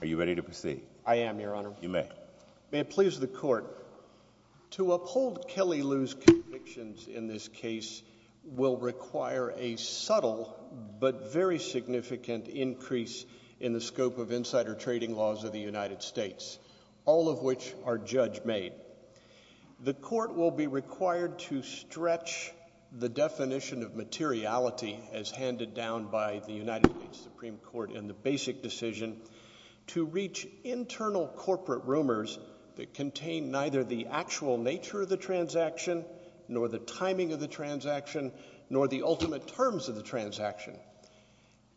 Are you ready to proceed? I am, Your Honor. You may. May it please the Court, to uphold Kelly Liu's convictions in this case will require a subtle but very significant increase in the scope of insider trading laws of the United States, all of which are judge-made. The Court will be required to stretch the definition of materiality as handed down by the United States Supreme Court in the basic decision to reach internal corporate rumors that contain neither the actual nature of the transaction, nor the timing of the transaction, nor the ultimate terms of the transaction.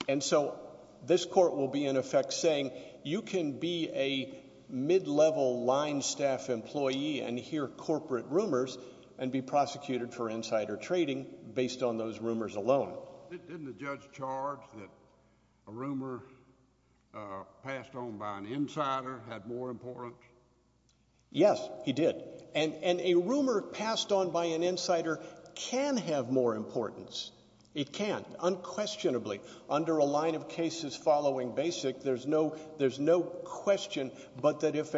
And so this Court will be, in effect, saying you can be a mid-level line staff employee and hear corporate rumors and be prosecuted for insider trading based on those rumors alone. Didn't the judge charge that a rumor passed on by an insider had more importance? Yes, he did. And a rumor passed on by an insider can have more importance. It can, unquestionably. Under a line of cases following basic, there's no question but that if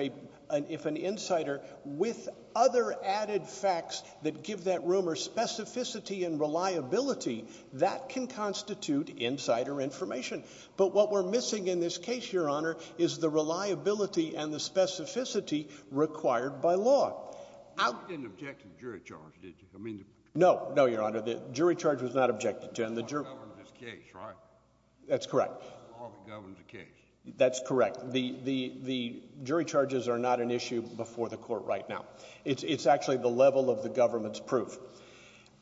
an insider, with other added facts that give that rumor specificity and reliability, that can constitute insider information. But what we're missing in this case, Your Honor, is the reliability and the specificity required by law. You didn't object to the jury charge, did you? No, no, Your Honor, the jury charge was not objected to. The law governs the case, right? That's correct. The law governs the case. That's correct. The jury charges are not an issue before the Court right now. It's actually the level of the government's proof.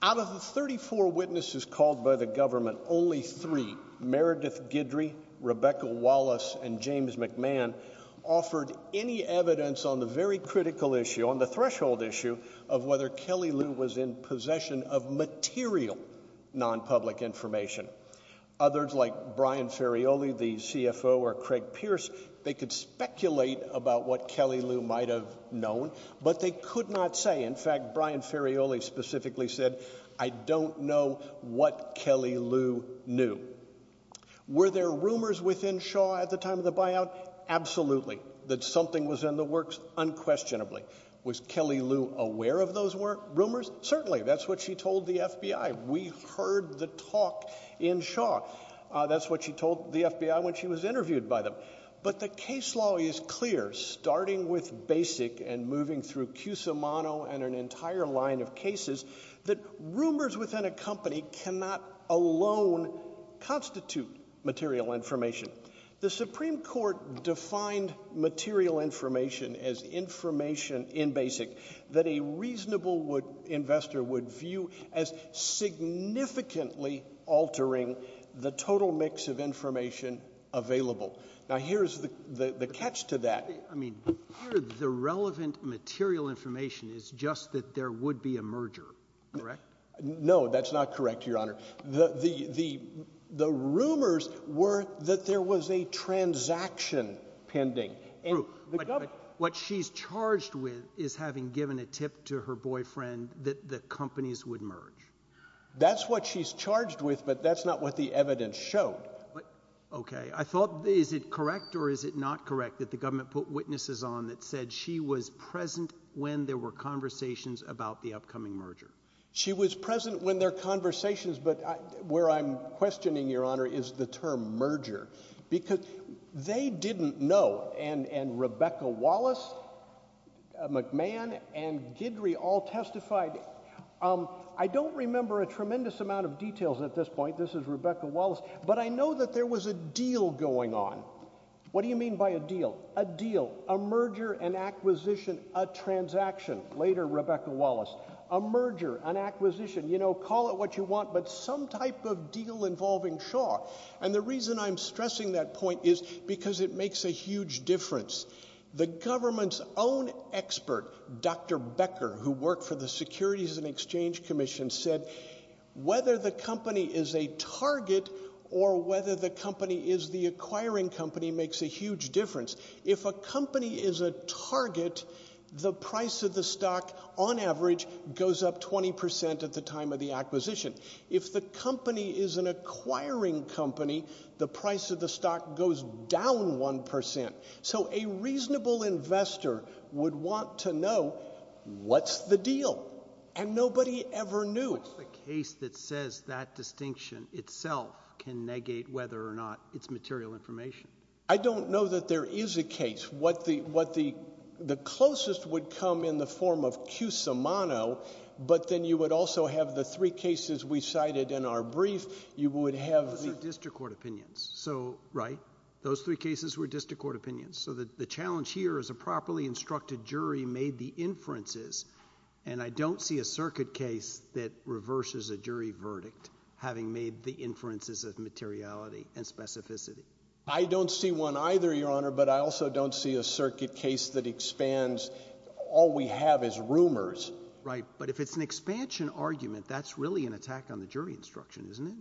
Out of the 34 witnesses called by the government, only three, Meredith Guidry, Rebecca Wallace, and James McMahon, offered any evidence on the very critical issue, on the threshold issue, of whether Kelly Liu was in possession of material non-public information. Others, like Brian Ferraioli, the CFO, or Craig Pierce, they could speculate about what Kelly Liu might have known, but they could not say. In fact, Brian Ferraioli specifically said, I don't know what Kelly Liu knew. Were there rumors within Shaw at the time of the buyout? Absolutely. That something was in the works unquestionably. Was Kelly Liu aware of those rumors? Certainly. That's what she told the FBI. We heard the talk in Shaw. That's what she told the FBI when she was interviewed by them. But the case law is clear, starting with BASIC and moving through Cusimano and an entire line of cases, that rumors within a company cannot alone constitute material information. The Supreme Court defined material information as information in BASIC that a reasonable investor would view as significantly altering the total mix of information available. Now, here's the catch to that. I mean, part of the relevant material information is just that there would be a merger. Correct? No, that's not correct, Your Honor. The rumors were that there was a transaction pending. What she's charged with is having given a tip to her boyfriend that the companies would merge. That's what she's charged with, but that's not what the evidence showed. Okay. I thought, is it correct or is it not correct that the government put witnesses on that said she was present when there were conversations about the upcoming merger? She was present when there were conversations, but where I'm questioning, Your Honor, is the term merger. Because they didn't know, and Rebecca Wallace, McMahon, and Guidry all testified. I don't remember a tremendous amount of details at this point. This is Rebecca Wallace. But I know that there was a deal going on. What do you mean by a deal? A deal, a merger, an acquisition, a transaction. Later, Rebecca Wallace. A merger, an acquisition, you know, call it what you want, but some type of deal involving Shaw. And the reason I'm stressing that point is because it makes a huge difference. The government's own expert, Dr. Becker, who worked for the Securities and Exchange Commission, said whether the company is a target or whether the company is the acquiring company makes a huge difference. If a company is a target, the price of the stock, on average, goes up 20% at the time of the acquisition. If the company is an acquiring company, the price of the stock goes down 1%. So a reasonable investor would want to know what's the deal. And nobody ever knew. What's the case that says that distinction itself can negate whether or not it's material information? I don't know that there is a case. What the closest would come in the form of Cusimano, but then you would also have the three cases we cited in our brief. You would have the— Those are district court opinions, right? Those three cases were district court opinions. So the challenge here is a properly instructed jury made the inferences, and I don't see a circuit case that reverses a jury verdict, having made the inferences of materiality and specificity. I don't see one either, Your Honor, but I also don't see a circuit case that expands all we have as rumors. Right. But if it's an expansion argument, that's really an attack on the jury instruction, isn't it?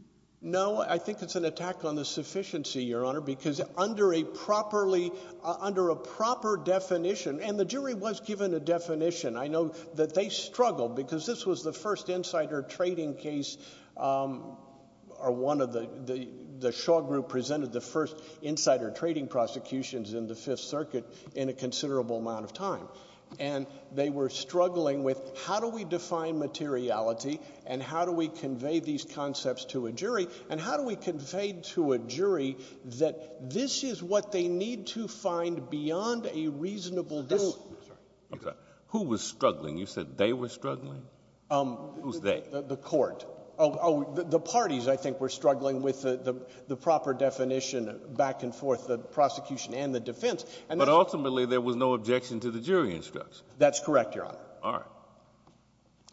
No, I think it's an attack on the sufficiency, Your Honor, because under a properly—under a proper definition—and the jury was given a definition. I know that they struggled because this was the first insider trading case or one of the—the Shaw Group presented the first insider trading prosecutions in the Fifth Circuit in a considerable amount of time. And they were struggling with how do we define materiality and how do we convey these concepts to a jury, and how do we convey to a jury that this is what they need to find beyond a reasonable— This—sorry. Okay. Who was struggling? You said they were struggling? Who's they? The court. Oh, the parties, I think, were struggling with the proper definition back and forth, the prosecution and the defense. But ultimately, there was no objection to the jury instruction. That's correct, Your Honor. All right.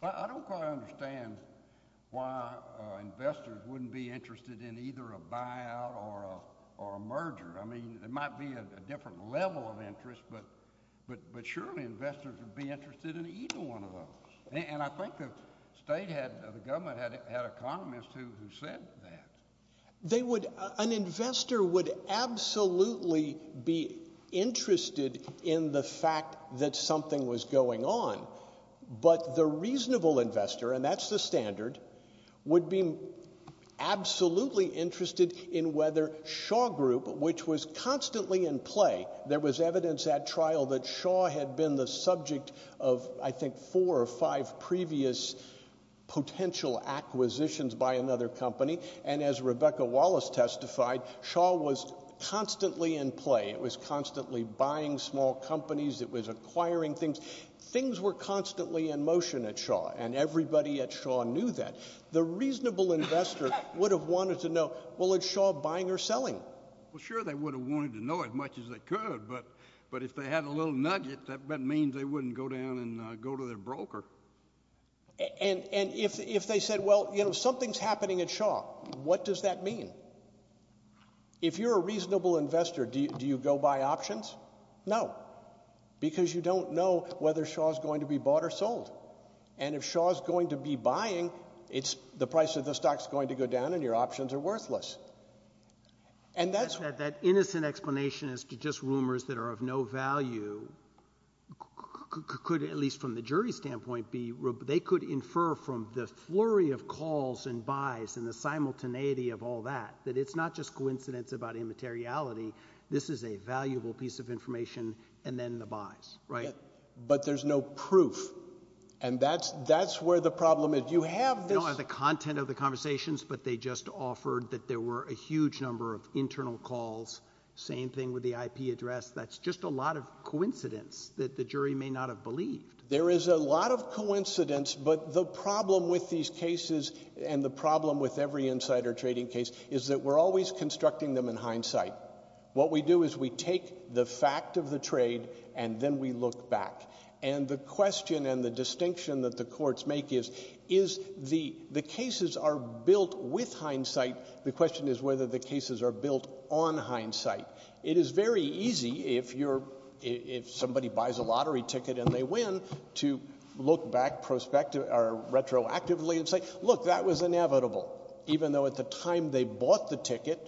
I don't quite understand why investors wouldn't be interested in either a buyout or a merger. I mean, there might be a different level of interest, but surely investors would be interested in either one of those. And I think the state had—the government had economists who said that. They would—an investor would absolutely be interested in the fact that something was going on. But the reasonable investor, and that's the standard, would be absolutely interested in whether Shaw Group, which was constantly in play— there was evidence at trial that Shaw had been the subject of, I think, four or five previous potential acquisitions by another company. And as Rebecca Wallace testified, Shaw was constantly in play. It was constantly buying small companies. It was acquiring things. Things were constantly in motion at Shaw, and everybody at Shaw knew that. The reasonable investor would have wanted to know, well, is Shaw buying or selling? Well, sure, they would have wanted to know as much as they could. But if they had a little nugget, that means they wouldn't go down and go to their broker. And if they said, well, you know, something's happening at Shaw, what does that mean? If you're a reasonable investor, do you go buy options? No, because you don't know whether Shaw's going to be bought or sold. And if Shaw's going to be buying, the price of the stock's going to go down and your options are worthless. And that's— The explanation as to just rumors that are of no value could, at least from the jury's standpoint, be— they could infer from the flurry of calls and buys and the simultaneity of all that, that it's not just coincidence about immateriality. This is a valuable piece of information, and then the buys, right? But there's no proof, and that's where the problem is. You have this— You don't have the content of the conversations, but they just offered that there were a huge number of internal calls. Same thing with the IP address. That's just a lot of coincidence that the jury may not have believed. There is a lot of coincidence, but the problem with these cases and the problem with every insider trading case is that we're always constructing them in hindsight. What we do is we take the fact of the trade, and then we look back. And the question and the distinction that the courts make is, the cases are built with hindsight. The question is whether the cases are built on hindsight. It is very easy, if somebody buys a lottery ticket and they win, to look back retroactively and say, look, that was inevitable, even though at the time they bought the ticket,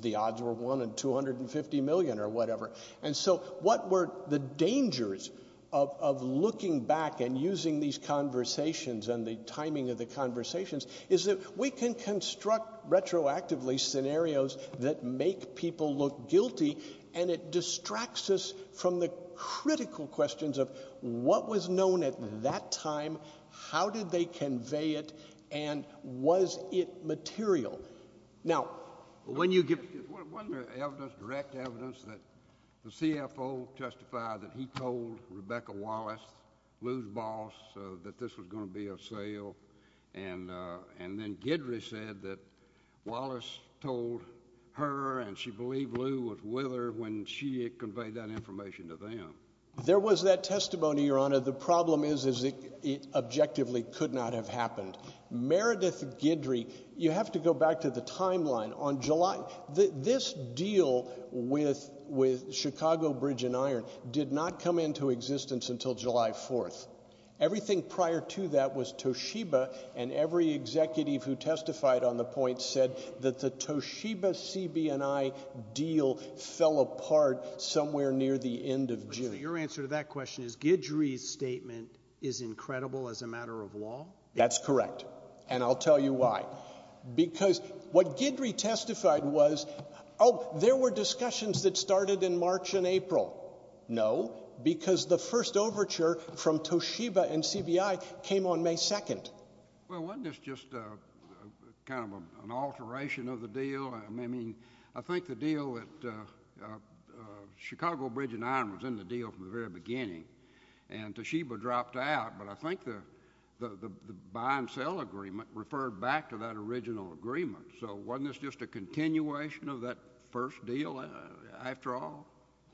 the odds were 1 in 250 million or whatever. And so what were the dangers of looking back and using these conversations and the timing of the conversations, is that we can construct retroactively scenarios that make people look guilty, and it distracts us from the critical questions of what was known at that time, how did they convey it, and was it material. Wasn't there direct evidence that the CFO testified that he told Rebecca Wallace, Lou's boss, that this was going to be a sale, and then Guidry said that Wallace told her and she believed Lou was with her when she conveyed that information to them? There was that testimony, Your Honor. The problem is it objectively could not have happened. Meredith Guidry, you have to go back to the timeline. This deal with Chicago Bridge and Iron did not come into existence until July 4th. Everything prior to that was Toshiba, and every executive who testified on the point said that the Toshiba-CBNI deal fell apart somewhere near the end of June. So your answer to that question is Guidry's statement is incredible as a matter of law? That's correct, and I'll tell you why. Because what Guidry testified was, oh, there were discussions that started in March and April. No, because the first overture from Toshiba and CBI came on May 2nd. Well, wasn't this just kind of an alteration of the deal? I mean, I think the deal at Chicago Bridge and Iron was in the deal from the very beginning, and Toshiba dropped out, but I think the buy-and-sell agreement referred back to that original agreement. So wasn't this just a continuation of that first deal after all?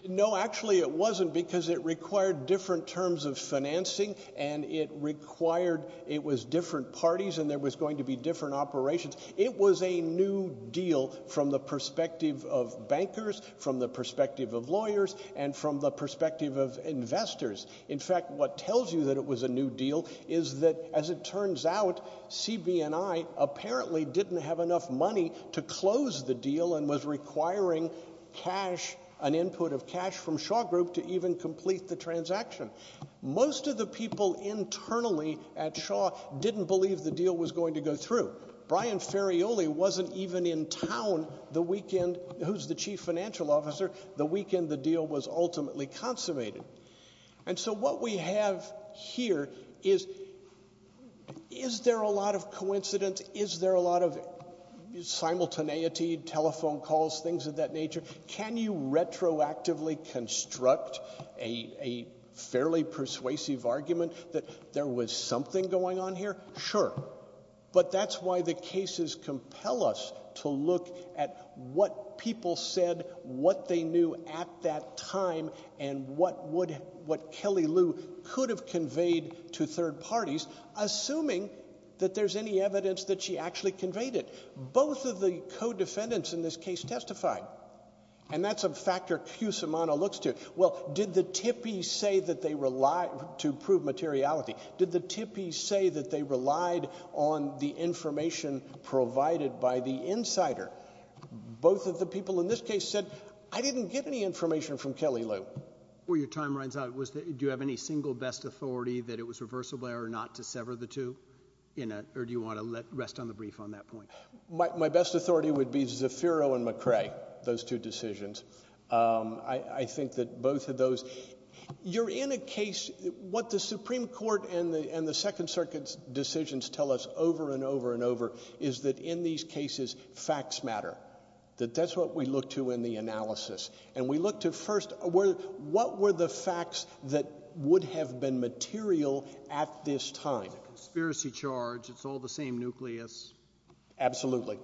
No, actually it wasn't because it required different terms of financing, and it required it was different parties and there was going to be different operations. It was a new deal from the perspective of bankers, from the perspective of lawyers, and from the perspective of investors. In fact, what tells you that it was a new deal is that, as it turns out, CB&I apparently didn't have enough money to close the deal and was requiring cash, an input of cash from Shaw Group to even complete the transaction. Most of the people internally at Shaw didn't believe the deal was going to go through. Brian Ferraioli wasn't even in town the weekend, who's the chief financial officer, the weekend the deal was ultimately consummated. And so what we have here is, is there a lot of coincidence? Is there a lot of simultaneity, telephone calls, things of that nature? Can you retroactively construct a fairly persuasive argument that there was something going on here? Sure. But that's why the cases compel us to look at what people said, what they knew at that time, and what Kelly Lou could have conveyed to third parties, assuming that there's any evidence that she actually conveyed it. Both of the co-defendants in this case testified, and that's a factor Cusimano looks to. Well, did the tippies say that they relied to prove materiality? Did the tippies say that they relied on the information provided by the insider? Both of the people in this case said, I didn't get any information from Kelly Lou. Well, your time runs out. Do you have any single best authority that it was reversible or not to sever the two? Or do you want to rest on the brief on that point? My best authority would be Zafiro and McCrae, those two decisions. I think that both of those. You're in a case, what the Supreme Court and the Second Circuit's decisions tell us over and over and over is that in these cases facts matter, that that's what we look to in the analysis. And we look to first what were the facts that would have been material at this time? It's a conspiracy charge. It's all the same nucleus. Absolutely.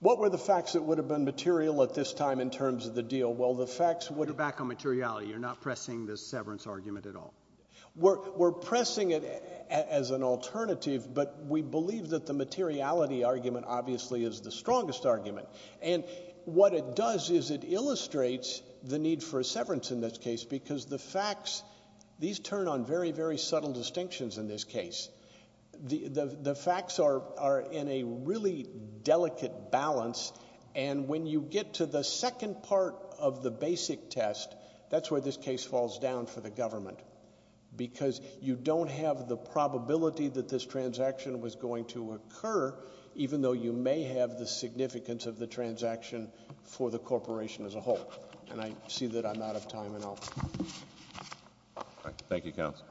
What were the facts that would have been material at this time in terms of the deal? Well, the facts would have— You're back on materiality. You're not pressing the severance argument at all. We're pressing it as an alternative, but we believe that the materiality argument obviously is the strongest argument. And what it does is it illustrates the need for a severance in this case because the facts, these turn on very, very subtle distinctions in this case. The facts are in a really delicate balance, and when you get to the second part of the basic test, that's where this case falls down for the government because you don't have the probability that this transaction was going to occur, even though you may have the significance of the transaction for the corporation as a whole. And I see that I'm out of time, and I'll— Thank you, counsel.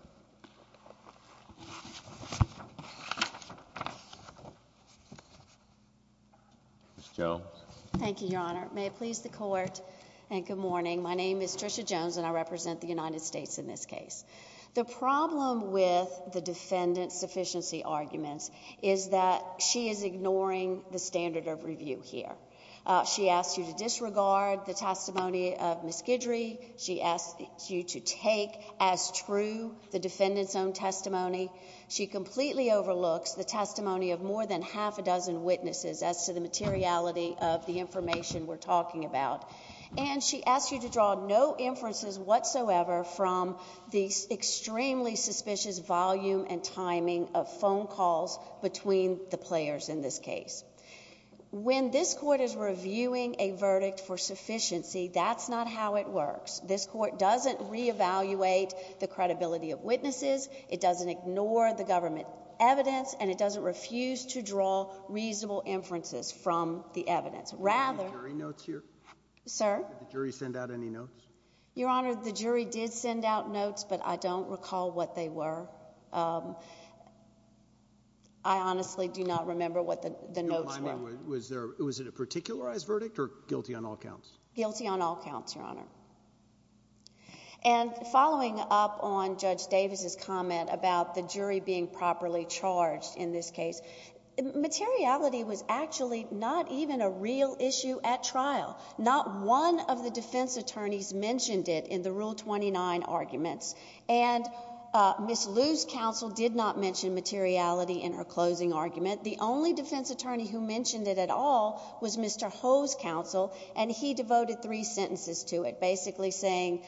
Ms. Jones. Thank you, Your Honor. May it please the Court, and good morning. My name is Tricia Jones, and I represent the United States in this case. The problem with the defendant's sufficiency arguments is that she is ignoring the standard of review here. She asked you to disregard the testimony of Ms. Guidry. She asked you to take as true the defendant's own testimony. She completely overlooks the testimony of more than half a dozen witnesses as to the materiality of the information we're talking about. And she asked you to draw no inferences whatsoever from the extremely suspicious volume and timing of phone calls between the players in this case. When this Court is reviewing a verdict for sufficiency, that's not how it works. It doesn't ignore the government evidence, and it doesn't refuse to draw reasonable inferences from the evidence. Rather— Are there any jury notes here? Sir? Did the jury send out any notes? Your Honor, the jury did send out notes, but I don't recall what they were. I honestly do not remember what the notes were. Was it a particularized verdict or guilty on all counts? Guilty on all counts, Your Honor. And following up on Judge Davis's comment about the jury being properly charged in this case, materiality was actually not even a real issue at trial. Not one of the defense attorneys mentioned it in the Rule 29 arguments. And Ms. Liu's counsel did not mention materiality in her closing argument. The only defense attorney who mentioned it at all was Mr. Ho's counsel, and he devoted three sentences to it, basically saying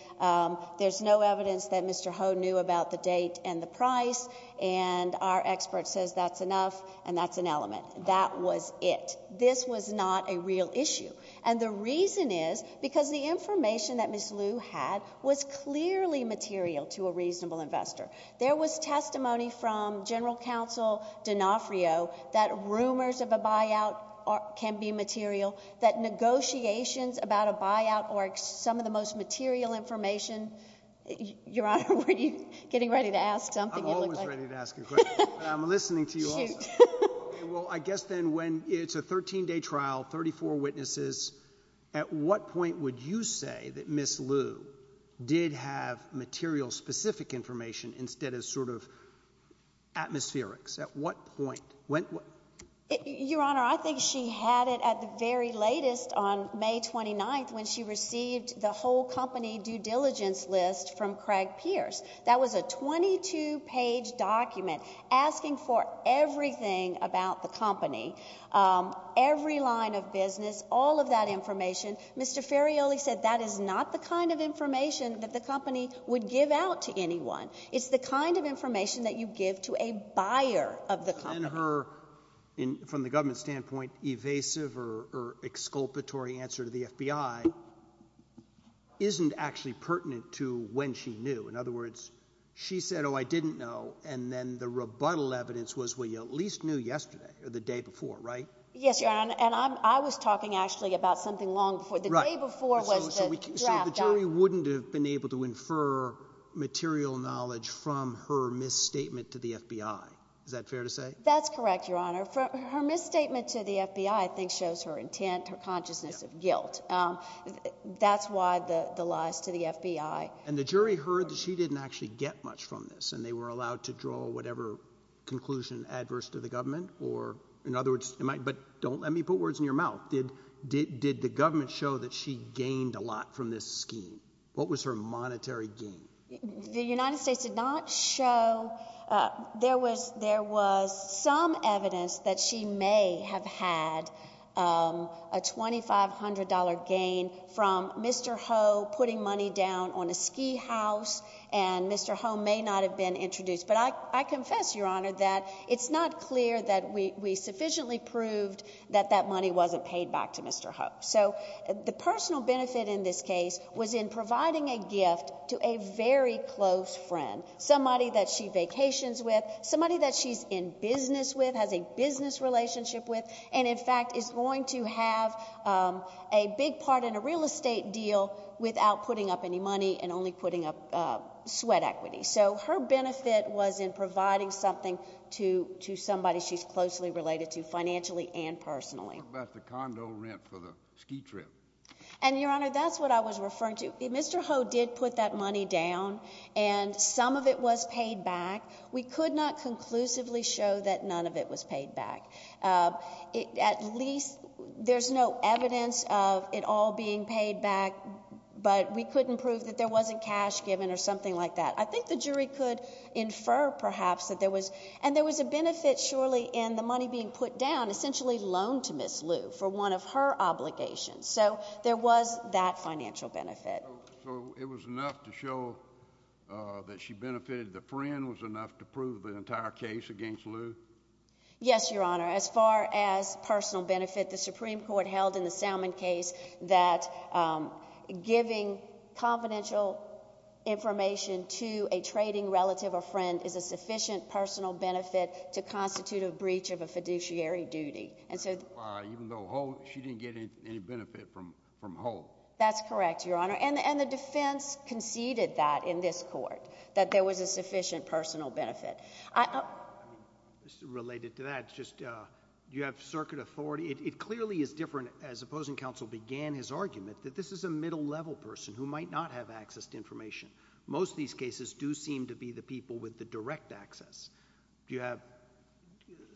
there's no evidence that Mr. Ho knew about the date and the price, and our expert says that's enough, and that's an element. That was it. This was not a real issue. And the reason is because the information that Ms. Liu had was clearly material to a reasonable investor. There was testimony from General Counsel D'Onofrio that rumors of a buyout can be material, that negotiations about a buyout are some of the most material information. Your Honor, were you getting ready to ask something? I'm always ready to ask a question, but I'm listening to you also. Shoot. Well, I guess then when it's a 13-day trial, 34 witnesses, at what point would you say that Ms. Liu did have material specific information instead of sort of atmospherics? At what point? Your Honor, I think she had it at the very latest on May 29th when she received the whole company due diligence list from Craig Pierce. That was a 22-page document asking for everything about the company, every line of business, all of that information. Mr. Ferraioli said that is not the kind of information that the company would give out to anyone. It's the kind of information that you give to a buyer of the company. Then her, from the government standpoint, evasive or exculpatory answer to the FBI isn't actually pertinent to when she knew. In other words, she said, oh, I didn't know, and then the rebuttal evidence was, well, you at least knew yesterday or the day before, right? Yes, Your Honor, and I was talking actually about something long before. The day before was the draft document. The jury wouldn't have been able to infer material knowledge from her misstatement to the FBI. Is that fair to say? That's correct, Your Honor. Her misstatement to the FBI, I think, shows her intent, her consciousness of guilt. That's why the lies to the FBI. And the jury heard that she didn't actually get much from this, and they were allowed to draw whatever conclusion adverse to the government or, in other words, But don't let me put words in your mouth. Did the government show that she gained a lot from this scheme? What was her monetary gain? The United States did not show. There was some evidence that she may have had a $2,500 gain from Mr. Ho putting money down on a ski house, and Mr. Ho may not have been introduced. But I confess, Your Honor, that it's not clear that we sufficiently proved that that money wasn't paid back to Mr. Ho. So the personal benefit in this case was in providing a gift to a very close friend, somebody that she vacations with, somebody that she's in business with, has a business relationship with, and, in fact, is going to have a big part in a real estate deal without putting up any money and only putting up sweat equity. So her benefit was in providing something to somebody she's closely related to financially and personally. What about the condo rent for the ski trip? And, Your Honor, that's what I was referring to. Mr. Ho did put that money down, and some of it was paid back. We could not conclusively show that none of it was paid back. At least there's no evidence of it all being paid back, but we couldn't prove that there wasn't cash given or something like that. I think the jury could infer perhaps that there was, and there was a benefit surely in the money being put down, essentially loaned to Ms. Liu for one of her obligations. So there was that financial benefit. So it was enough to show that she benefited the friend? Was it enough to prove the entire case against Liu? Yes, Your Honor. As far as personal benefit, the Supreme Court held in the Salmon case that giving confidential information to a trading relative or friend is a sufficient personal benefit to constitute a breach of a fiduciary duty. Even though she didn't get any benefit from Ho? That's correct, Your Honor. And the defense conceded that in this court, that there was a sufficient personal benefit. Related to that, do you have circuit authority? It clearly is different, as opposing counsel began his argument, that this is a middle-level person who might not have access to information. Most of these cases do seem to be the people with the direct access. Do you have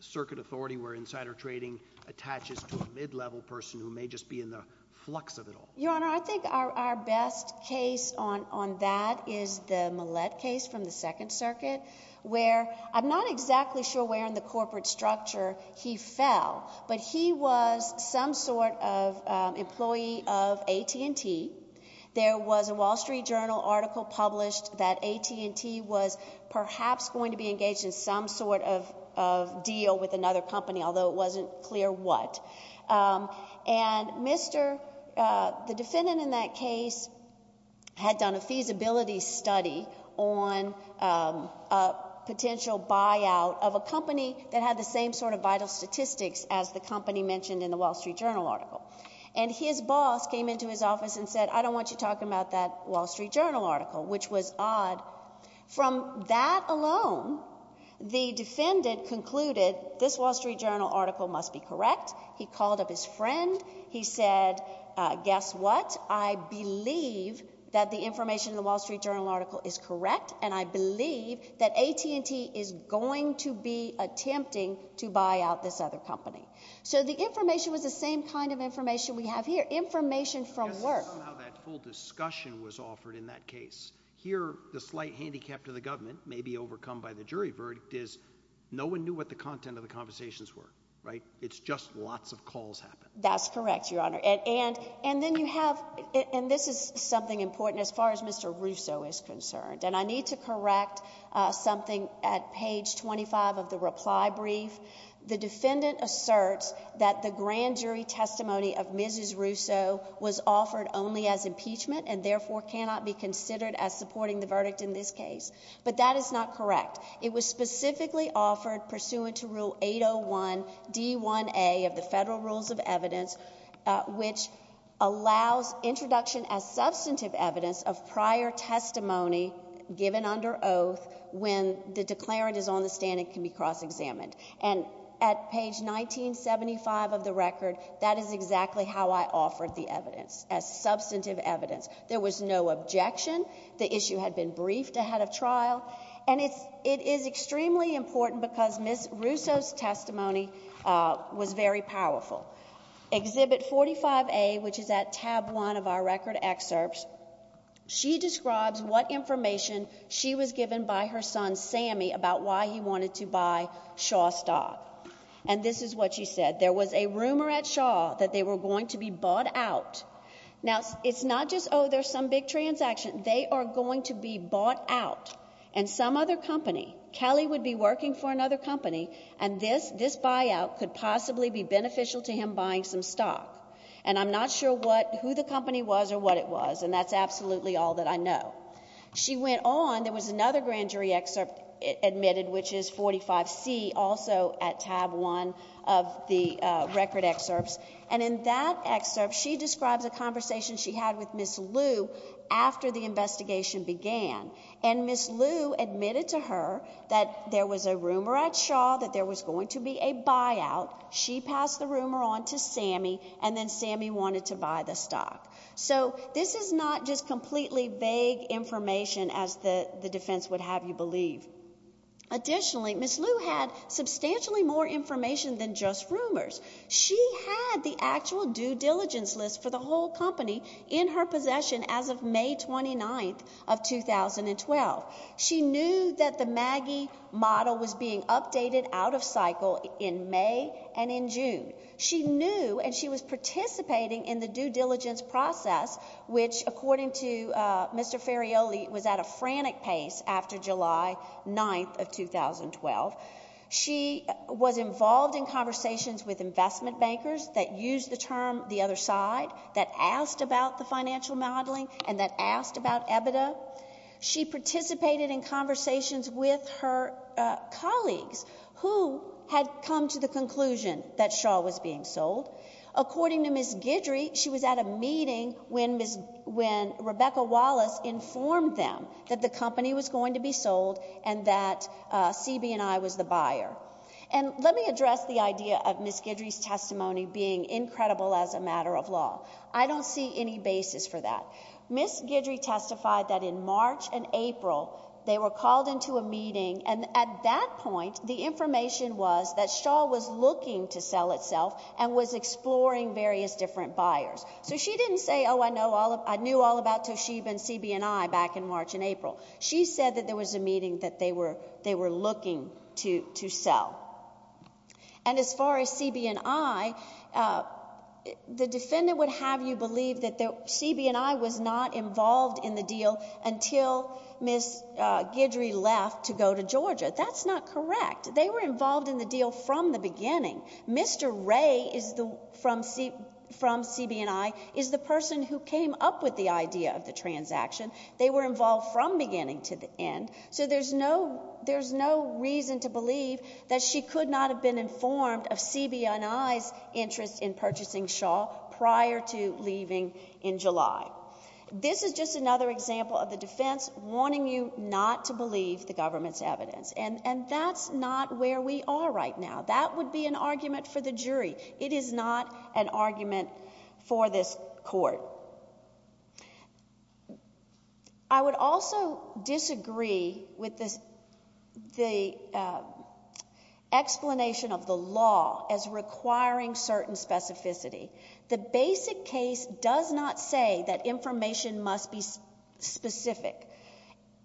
circuit authority where insider trading attaches to a mid-level person who may just be in the flux of it all? Your Honor, I think our best case on that is the Millett case from the Second Circuit, where I'm not exactly sure where in the corporate structure he fell, but he was some sort of employee of AT&T. There was a Wall Street Journal article published that AT&T was perhaps going to be engaged in some sort of deal with another company, although it wasn't clear what. And the defendant in that case had done a feasibility study on a potential buyout of a company that had the same sort of vital statistics as the company mentioned in the Wall Street Journal article. And his boss came into his office and said, I don't want you talking about that Wall Street Journal article, which was odd. From that alone, the defendant concluded this Wall Street Journal article must be correct. He called up his friend. He said, guess what? I believe that the information in the Wall Street Journal article is correct, and I believe that AT&T is going to be attempting to buy out this other company. So the information was the same kind of information we have here, information from work. That's how that full discussion was offered in that case. Here, the slight handicap to the government, maybe overcome by the jury verdict, is no one knew what the content of the conversations were, right? It's just lots of calls happened. That's correct, Your Honor. And then you have—and this is something important as far as Mr. Russo is concerned, and I need to correct something at page 25 of the reply brief. The defendant asserts that the grand jury testimony of Mrs. Russo was offered only as impeachment and therefore cannot be considered as supporting the verdict in this case. But that is not correct. It was specifically offered pursuant to Rule 801D1A of the Federal Rules of Evidence, which allows introduction as substantive evidence of prior testimony given under oath when the declarant is on the stand and can be cross-examined. And at page 1975 of the record, that is exactly how I offered the evidence, as substantive evidence. There was no objection. The issue had been briefed ahead of trial. And it is extremely important because Ms. Russo's testimony was very powerful. Exhibit 45A, which is at tab one of our record excerpts, she describes what information she was given by her son, Sammy, about why he wanted to buy Shaw stock. And this is what she said. There was a rumor at Shaw that they were going to be bought out. Now, it's not just, oh, there's some big transaction. They are going to be bought out. And some other company, Kelly would be working for another company, and this buyout could possibly be beneficial to him buying some stock. And I'm not sure who the company was or what it was, and that's absolutely all that I know. She went on. There was another grand jury excerpt admitted, which is 45C, also at tab one of the record excerpts. And in that excerpt, she describes a conversation she had with Ms. Lu after the investigation began. And Ms. Lu admitted to her that there was a rumor at Shaw that there was going to be a buyout. She passed the rumor on to Sammy, and then Sammy wanted to buy the stock. So this is not just completely vague information, as the defense would have you believe. Additionally, Ms. Lu had substantially more information than just rumors. She had the actual due diligence list for the whole company in her possession as of May 29th of 2012. She knew that the Maggie model was being updated out of cycle in May and in June. She knew, and she was participating in the due diligence process, which according to Mr. Ferraioli was at a frantic pace after July 9th of 2012. She was involved in conversations with investment bankers that used the term the other side, that asked about the financial modeling, and that asked about EBITDA. She participated in conversations with her colleagues who had come to the conclusion that Shaw was being sold. According to Ms. Guidry, she was at a meeting when Rebecca Wallace informed them that the company was going to be sold and that CB&I was the buyer. And let me address the idea of Ms. Guidry's testimony being incredible as a matter of law. I don't see any basis for that. Ms. Guidry testified that in March and April they were called into a meeting, and at that point the information was that Shaw was looking to sell itself and was exploring various different buyers. So she didn't say, oh, I knew all about Toshiba and CB&I back in March and April. She said that there was a meeting that they were looking to sell. And as far as CB&I, the defendant would have you believe that CB&I was not involved in the deal until Ms. Guidry left to go to Georgia. That's not correct. They were involved in the deal from the beginning. Mr. Ray from CB&I is the person who came up with the idea of the transaction. They were involved from beginning to end. So there's no reason to believe that she could not have been informed of CB&I's interest in purchasing Shaw prior to leaving in July. This is just another example of the defense wanting you not to believe the government's evidence. And that's not where we are right now. That would be an argument for the jury. It is not an argument for this court. I would also disagree with the explanation of the law as requiring certain specificity. The basic case does not say that information must be specific.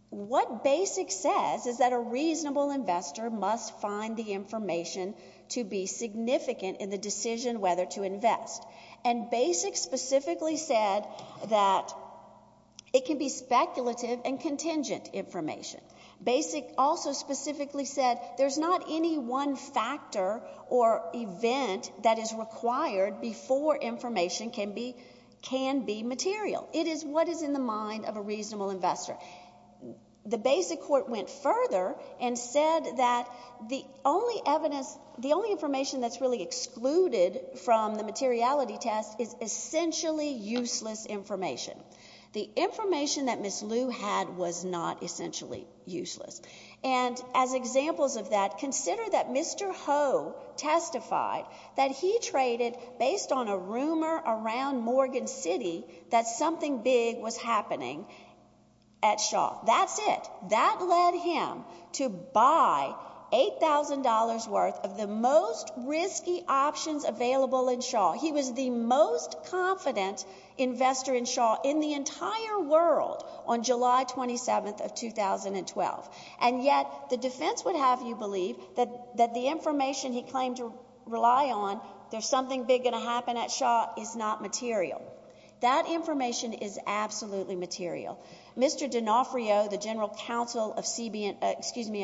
What basic says is that a reasonable investor must find the information to be significant in the decision whether to invest. And basic specifically said that it can be speculative and contingent information. Basic also specifically said there's not any one factor or event that is required before information can be material. It is what is in the mind of a reasonable investor. The basic court went further and said that the only evidence, the only information that's really excluded from the materiality test is essentially useless information. The information that Ms. Liu had was not essentially useless. And as examples of that, consider that Mr. Ho testified that he traded based on a rumor around Morgan City that something big was happening at Shaw. That's it. That led him to buy $8,000 worth of the most risky options available in Shaw. He was the most confident investor in Shaw in the entire world on July 27th of 2012. And yet the defense would have you believe that the information he claimed to rely on, there's something big going to happen at Shaw, is not material. That information is absolutely material. Mr. D'Onofrio, the general counsel of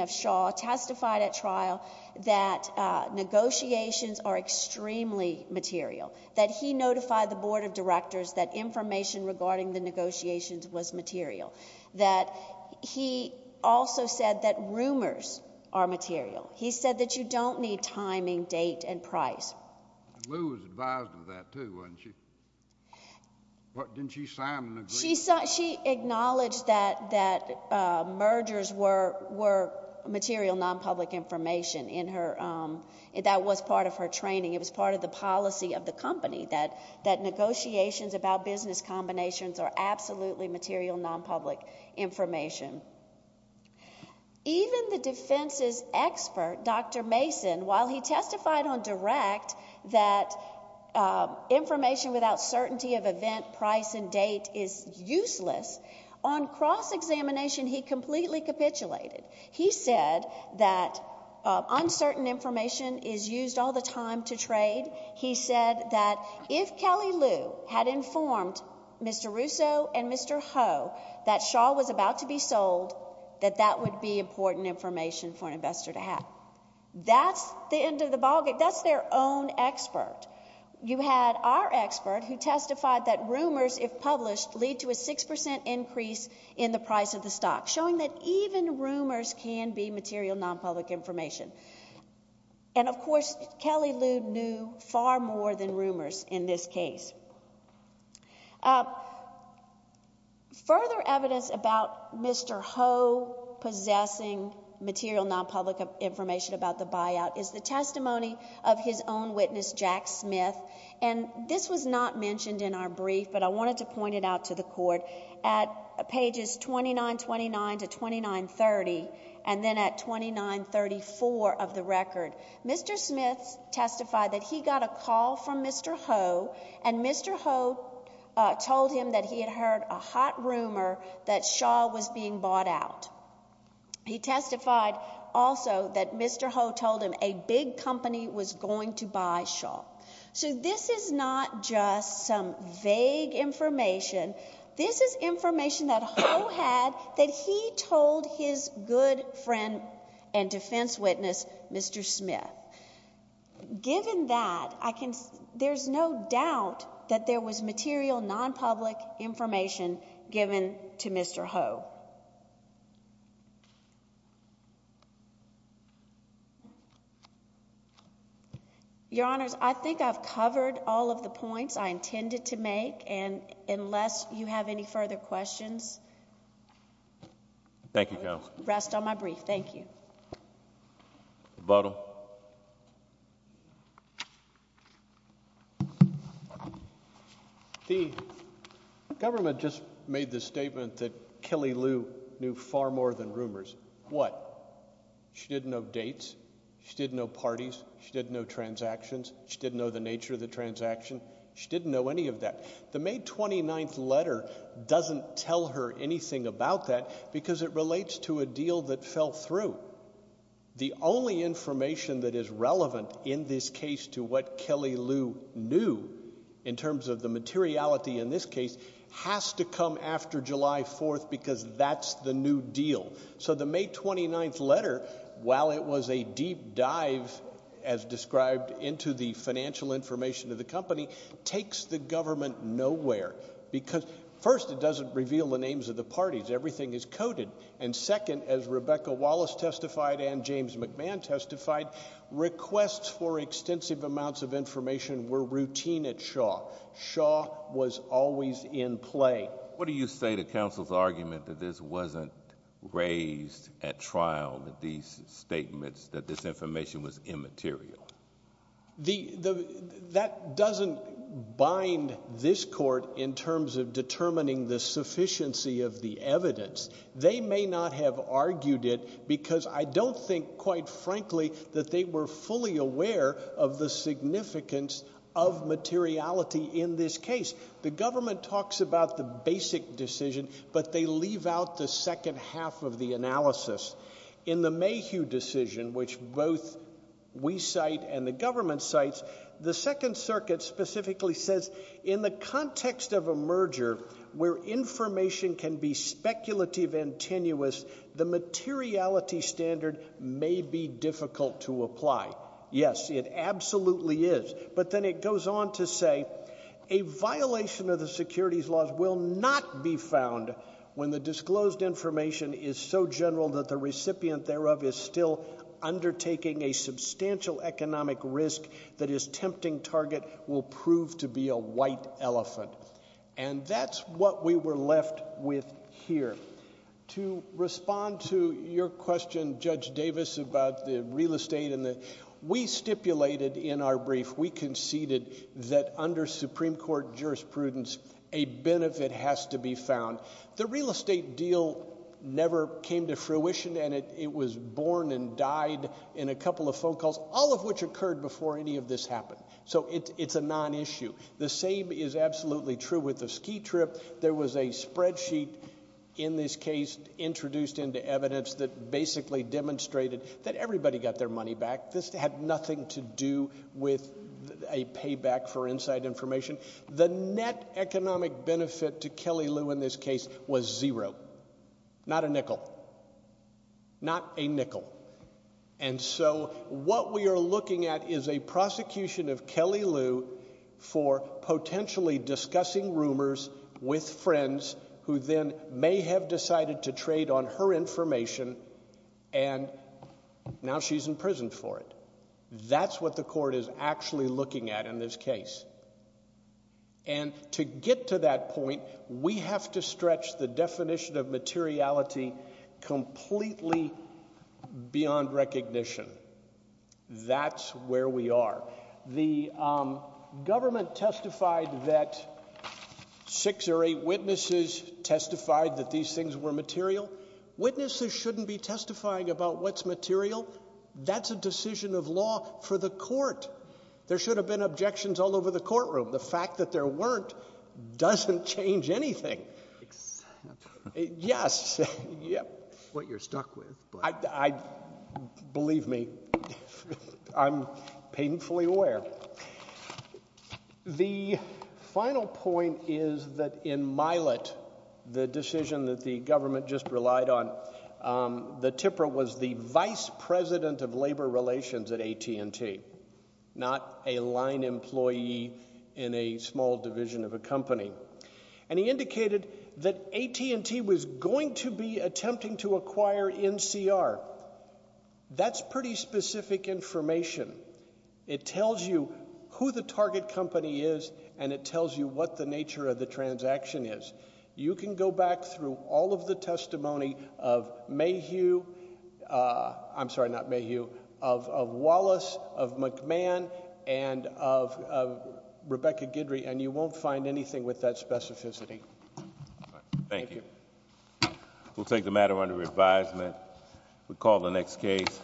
Shaw, testified at trial that negotiations are extremely material, that he notified the board of directors that information regarding the negotiations was material, that he also said that rumors are material. He said that you don't need timing, date, and price. Liu was advised of that too, wasn't she? Didn't she sign an agreement? She acknowledged that mergers were material, non-public information. That was part of her training. It was part of the policy of the company, that negotiations about business combinations are absolutely material, non-public information. Even the defense's expert, Dr. Mason, while he testified on direct, that information without certainty of event, price, and date is useless, on cross-examination he completely capitulated. He said that uncertain information is used all the time to trade. He said that if Kelly Liu had informed Mr. Russo and Mr. Ho that Shaw was about to be sold, that that would be important information for an investor to have. That's the end of the ballgame. That's their own expert. You had our expert who testified that rumors, if published, lead to a 6% increase in the price of the stock, showing that even rumors can be material, non-public information. And, of course, Kelly Liu knew far more than rumors in this case. Further evidence about Mr. Ho possessing material, non-public information about the buyout is the testimony of his own witness, Jack Smith. And this was not mentioned in our brief, but I wanted to point it out to the court. At pages 2929 to 2930, and then at 2934 of the record, Mr. Smith testified that he got a call from Mr. Ho and Mr. Ho told him that he had heard a hot rumor that Shaw was being bought out. He testified also that Mr. Ho told him a big company was going to buy Shaw. So this is not just some vague information. This is information that Ho had that he told his good friend and defense witness, Mr. Smith. Given that, there's no doubt that there was material, non-public information given to Mr. Ho. Your Honors, I think I've covered all of the points I intended to make, and unless you have any further questions, I will rest on my brief. Thank you. Rebuttal. The government just made the statement that Kelly Lou knew far more than rumors. What? She didn't know dates. She didn't know parties. She didn't know transactions. She didn't know the nature of the transaction. She didn't know any of that. The May 29th letter doesn't tell her anything about that because it relates to a deal that fell through. The only information that is relevant in this case to what Kelly Lou knew, in terms of the materiality in this case, has to come after July 4th because that's the new deal. So the May 29th letter, while it was a deep dive, as described, into the financial information of the company, takes the government nowhere. First, it doesn't reveal the names of the parties. Everything is coded, and second, as Rebecca Wallace testified and James McMahon testified, requests for extensive amounts of information were routine at Shaw. Shaw was always in play. What do you say to counsel's argument that this wasn't raised at trial, that these statements, that this information was immaterial? That doesn't bind this court in terms of determining the sufficiency of the evidence. They may not have argued it because I don't think, quite frankly, that they were fully aware of the significance of materiality in this case. The government talks about the basic decision, but they leave out the second half of the analysis. In the Mayhew decision, which both we cite and the government cites, the Second Circuit specifically says, in the context of a merger where information can be speculative and tenuous, the materiality standard may be difficult to apply. Yes, it absolutely is. But then it goes on to say, a violation of the securities laws will not be found when the disclosed information is so general that the recipient thereof is still undertaking a substantial economic risk that his tempting target will prove to be a white elephant. And that's what we were left with here. To respond to your question, Judge Davis, about the real estate, we stipulated in our brief, we conceded, that under Supreme Court jurisprudence a benefit has to be found. The real estate deal never came to fruition, and it was born and died in a couple of phone calls, all of which occurred before any of this happened. So it's a non-issue. The same is absolutely true with the ski trip. There was a spreadsheet in this case introduced into evidence that basically demonstrated that everybody got their money back. This had nothing to do with a payback for inside information. The net economic benefit to Kelly Lou in this case was zero. Not a nickel. Not a nickel. And so what we are looking at is a prosecution of Kelly Lou for potentially discussing rumors with friends who then may have decided to trade on her information, and now she's in prison for it. That's what the court is actually looking at in this case. And to get to that point, we have to stretch the definition of materiality completely beyond recognition. That's where we are. The government testified that six or eight witnesses testified that these things were material. Witnesses shouldn't be testifying about what's material. That's a decision of law for the court. There should have been objections all over the courtroom. The fact that there weren't doesn't change anything. Except... Yes. What you're stuck with. Believe me. I'm painfully aware. The final point is that in Milet, the decision that the government just relied on, the TIPRA was the vice president of labor relations at AT&T, not a line employee in a small division of a company. And he indicated that AT&T was going to be attempting to acquire NCR. That's pretty specific information. It tells you who the target company is, and it tells you what the nature of the transaction is. You can go back through all of the testimony of Mayhew. I'm sorry, not Mayhew. Of Wallace, of McMahon, and of Rebecca Guidry, and you won't find anything with that specificity. Thank you. We'll take the matter under advisement. We'll call the next case.